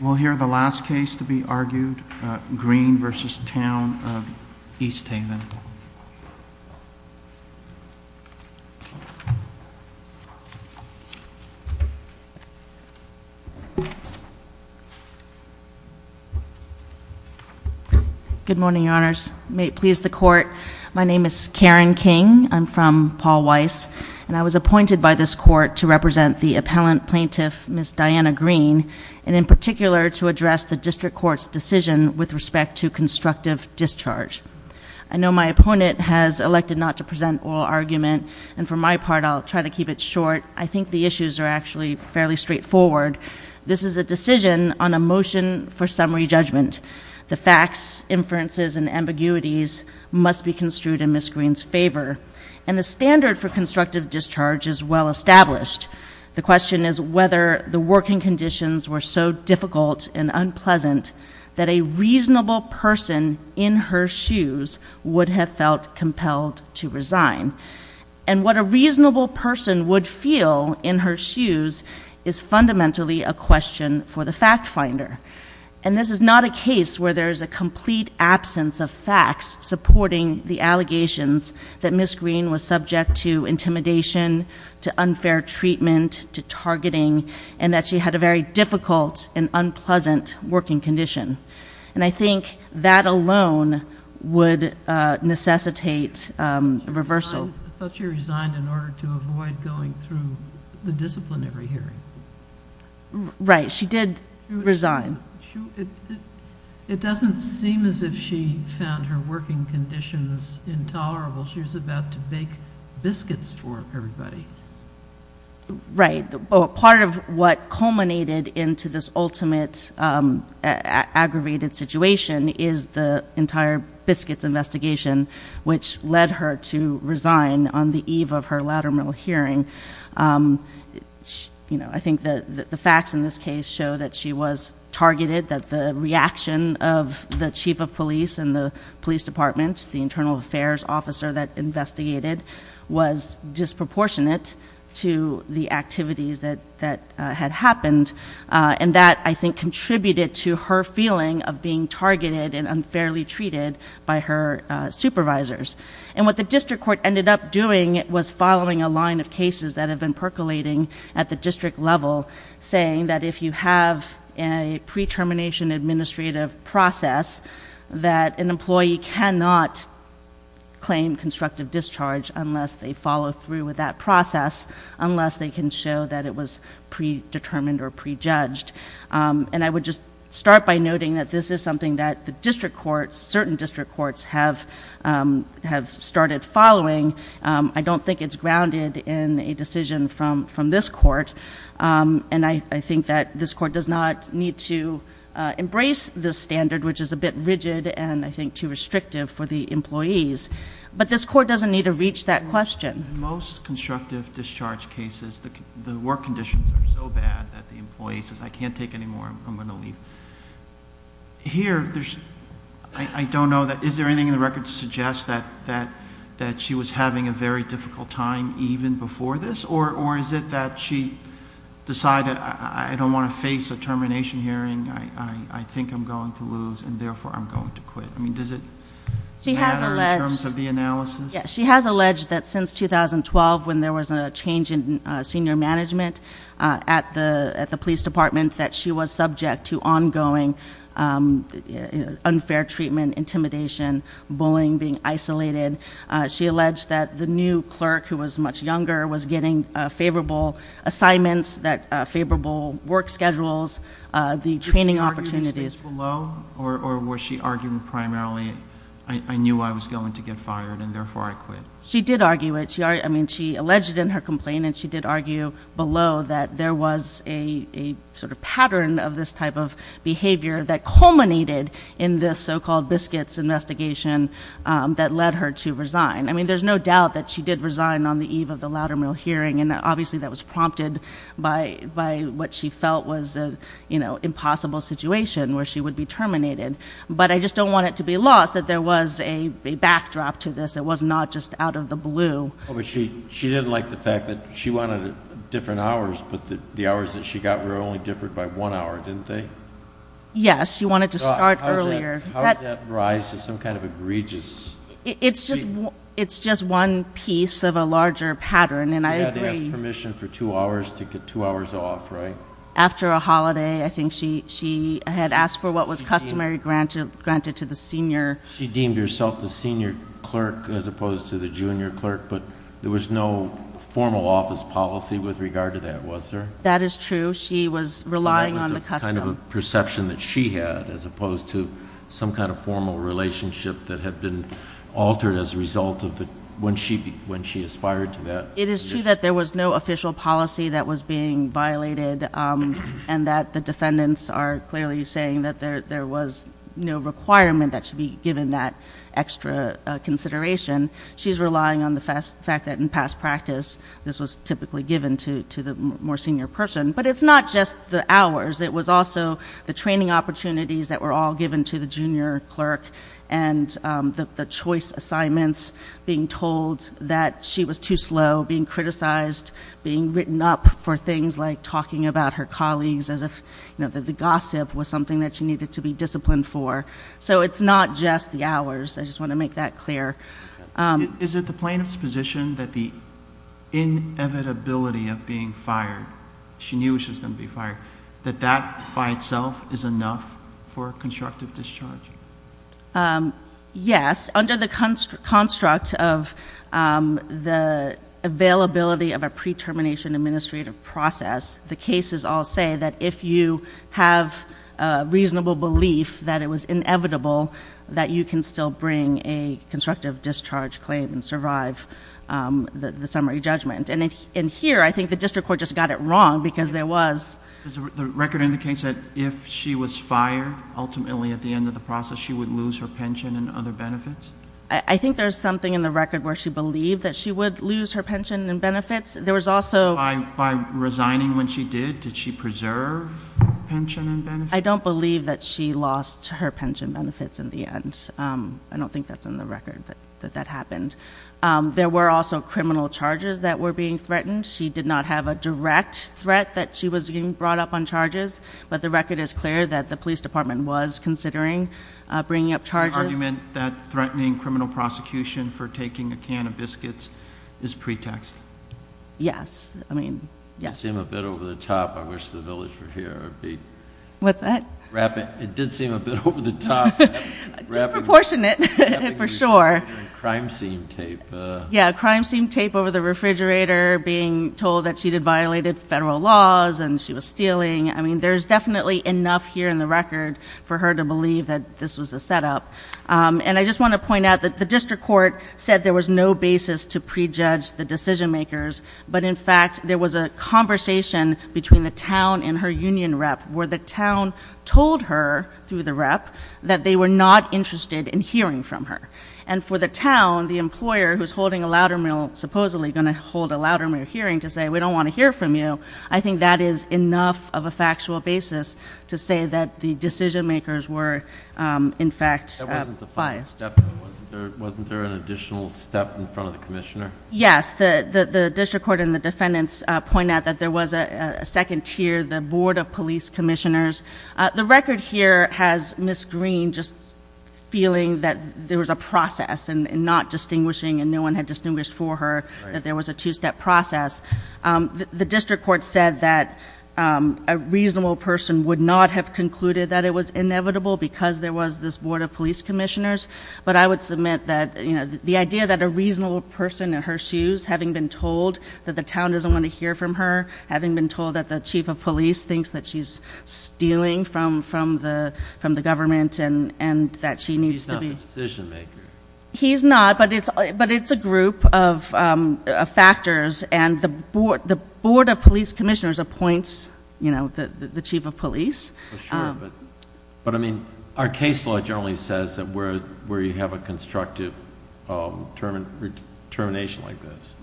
We'll hear the last case to be argued, Green v. Town of East Haven. Good morning, Your Honors. May it please the Court, my name is Karen King. I'm from Paul Weiss. And I was appointed by this Court to represent the appellant plaintiff, Ms. Diana Green. And in particular, to address the District Court's decision with respect to constructive discharge. I know my opponent has elected not to present oral argument, and for my part I'll try to keep it short. I think the issues are actually fairly straightforward. This is a decision on a motion for summary judgment. The facts, inferences, and ambiguities must be construed in Ms. Green's favor. And the standard for constructive discharge is well established. The question is whether the working conditions were so difficult and unpleasant that a reasonable person in her shoes would have felt compelled to resign. And what a reasonable person would feel in her shoes is fundamentally a question for the fact finder. And this is not a case where there is a complete absence of facts supporting the allegations that Ms. Green was subject to intimidation, to unfair treatment, to targeting, and that she had a very difficult and unpleasant working condition. And I think that alone would necessitate a reversal. I thought she resigned in order to avoid going through the disciplinary hearing. Right, she did resign. It doesn't seem as if she found her working conditions intolerable. She was about to bake biscuits for everybody. Right. Part of what culminated into this ultimate aggravated situation is the entire biscuits investigation, which led her to resign on the eve of her lateral hearing. I think the facts in this case show that she was targeted, that the reaction of the chief of police and the police department, the internal affairs officer that investigated, was disproportionate to the activities that had happened. And that, I think, contributed to her feeling of being targeted and unfairly treated by her supervisors. And what the district court ended up doing was following a line of cases that have been percolating at the district level, saying that if you have a pre-termination administrative process, that an employee cannot claim constructive discharge unless they follow through with that process, unless they can show that it was predetermined or prejudged. And I would just start by noting that this is something that the district courts, certain district courts, have started following. I don't think it's grounded in a decision from this court. And I think that this court does not need to embrace this standard, which is a bit rigid and, I think, too restrictive for the employees. But this court doesn't need to reach that question. In most constructive discharge cases, the work conditions are so bad that the employee says, I can't take any more, I'm going to leave. Here, I don't know, is there anything in the record to suggest that she was having a very difficult time even before this? Or is it that she decided, I don't want to face a termination hearing, I think I'm going to lose and, therefore, I'm going to quit? I mean, does it matter in terms of the analysis? Yes, she has alleged that since 2012, when there was a change in senior management at the police department, that she was subject to ongoing unfair treatment, intimidation, bullying, being isolated. She alleged that the new clerk, who was much younger, was getting favorable assignments, favorable work schedules, the training opportunities. Was this below or was she arguing primarily, I knew I was going to get fired and, therefore, I quit? She did argue it. I mean, she alleged in her complaint and she did argue below that there was a sort of pattern of this type of behavior that culminated in this so-called biscuits investigation that led her to resign. I mean, there's no doubt that she did resign on the eve of the Loudermill hearing and, obviously, that was prompted by what she felt was an impossible situation where she would be terminated. But I just don't want it to be lost that there was a backdrop to this. It was not just out of the blue. She didn't like the fact that she wanted different hours, but the hours that she got were only differed by one hour, didn't they? Yes, she wanted to start earlier. How does that rise to some kind of egregious? It's just one piece of a larger pattern, and I agree. She had to ask permission for two hours to get two hours off, right? After a holiday, I think she had asked for what was customary granted to the senior. She deemed herself the senior clerk as opposed to the junior clerk, but there was no formal office policy with regard to that, was there? That is true. She was relying on the custom. It was a kind of a perception that she had as opposed to some kind of formal relationship that had been altered as a result of when she aspired to that position. It is true that there was no official policy that was being violated and that the defendants are clearly saying that there was no requirement that she be given that extra consideration. She's relying on the fact that in past practice, this was typically given to the more senior person. But it's not just the hours. It was also the training opportunities that were all given to the junior clerk and the choice assignments, being told that she was too slow, being criticized, being written up for things like talking about her colleagues as if the gossip was something that she needed to be disciplined for. So it's not just the hours. I just want to make that clear. Is it the plaintiff's position that the inevitability of being fired, she knew she was going to be fired, that that by itself is enough for constructive discharge? Yes. Under the construct of the availability of a pre-termination administrative process, the cases all say that if you have a reasonable belief that it was inevitable, that you can still bring a constructive discharge claim and survive the summary judgment. And here, I think the district court just got it wrong because there was... The record indicates that if she was fired, ultimately at the end of the process, she would lose her pension and other benefits? I think there's something in the record where she believed that she would lose her pension and benefits. There was also... By resigning when she did, did she preserve pension and benefits? I don't believe that she lost her pension benefits in the end. I don't think that's in the record that that happened. There were also criminal charges that were being threatened. She did not have a direct threat that she was being brought up on charges, but the record is clear that the police department was considering bringing up charges. The argument that threatening criminal prosecution for taking a can of biscuits is pretext? Yes. I mean, yes. It seemed a bit over the top. I wish the village were here. What's that? It did seem a bit over the top. Disproportionate, for sure. Crime scene tape. Yeah, crime scene tape over the refrigerator, being told that she had violated federal laws and she was stealing. I mean, there's definitely enough here in the record for her to believe that this was a setup. And I just want to point out that the district court said there was no basis to prejudge the decision makers, but in fact, there was a conversation between the town and her union rep, where the town told her, through the rep, that they were not interested in hearing from her. And for the town, the employer, who's supposedly going to hold a louder mill hearing, to say, we don't want to hear from you, I think that is enough of a factual basis to say that the decision makers were, in fact, biased. Wasn't there an additional step in front of the commissioner? Yes. The district court and the defendants point out that there was a second tier, the board of police commissioners. The record here has Ms. Green just feeling that there was a process and not distinguishing, and no one had distinguished for her that there was a two-step process. The district court said that a reasonable person would not have concluded that it was inevitable, because there was this board of police commissioners. But I would submit that the idea that a reasonable person in her shoes, having been told that the town doesn't want to hear from her, having been told that the chief of police thinks that she's stealing from the government and that she needs to be. He's not the decision maker. He's not, but it's a group of factors. And the board of police commissioners appoints the chief of police. But, I mean, our case law generally says that where you have a constructive termination like this,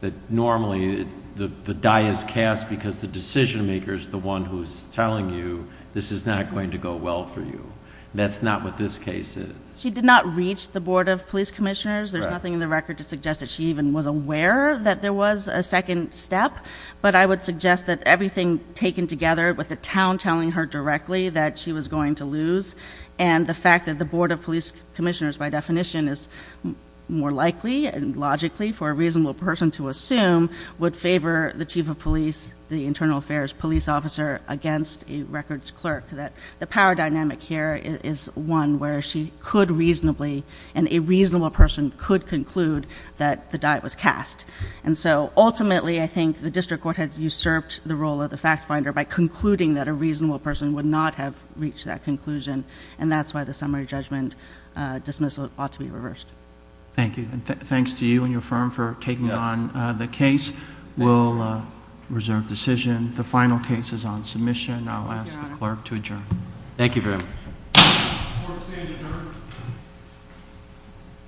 that normally the die is cast because the decision maker is the one who's telling you this is not going to go well for you. That's not what this case is. She did not reach the board of police commissioners. There's nothing in the record to suggest that she even was aware that there was a second step. But I would suggest that everything taken together with the town telling her directly that she was going to lose, and the fact that the board of police commissioners, by definition, is more likely and logically for a reasonable person to assume, would favor the chief of police, the internal affairs police officer, against a records clerk. The power dynamic here is one where she could reasonably, and a reasonable person could conclude, that the die was cast. And so, ultimately, I think the district court has usurped the role of the fact finder by concluding that a reasonable person would not have reached that conclusion. And that's why the summary judgment dismissal ought to be reversed. Thank you. And thanks to you and your firm for taking on the case. We'll reserve decision. The final case is on submission. I'll ask the clerk to adjourn. Thank you very much.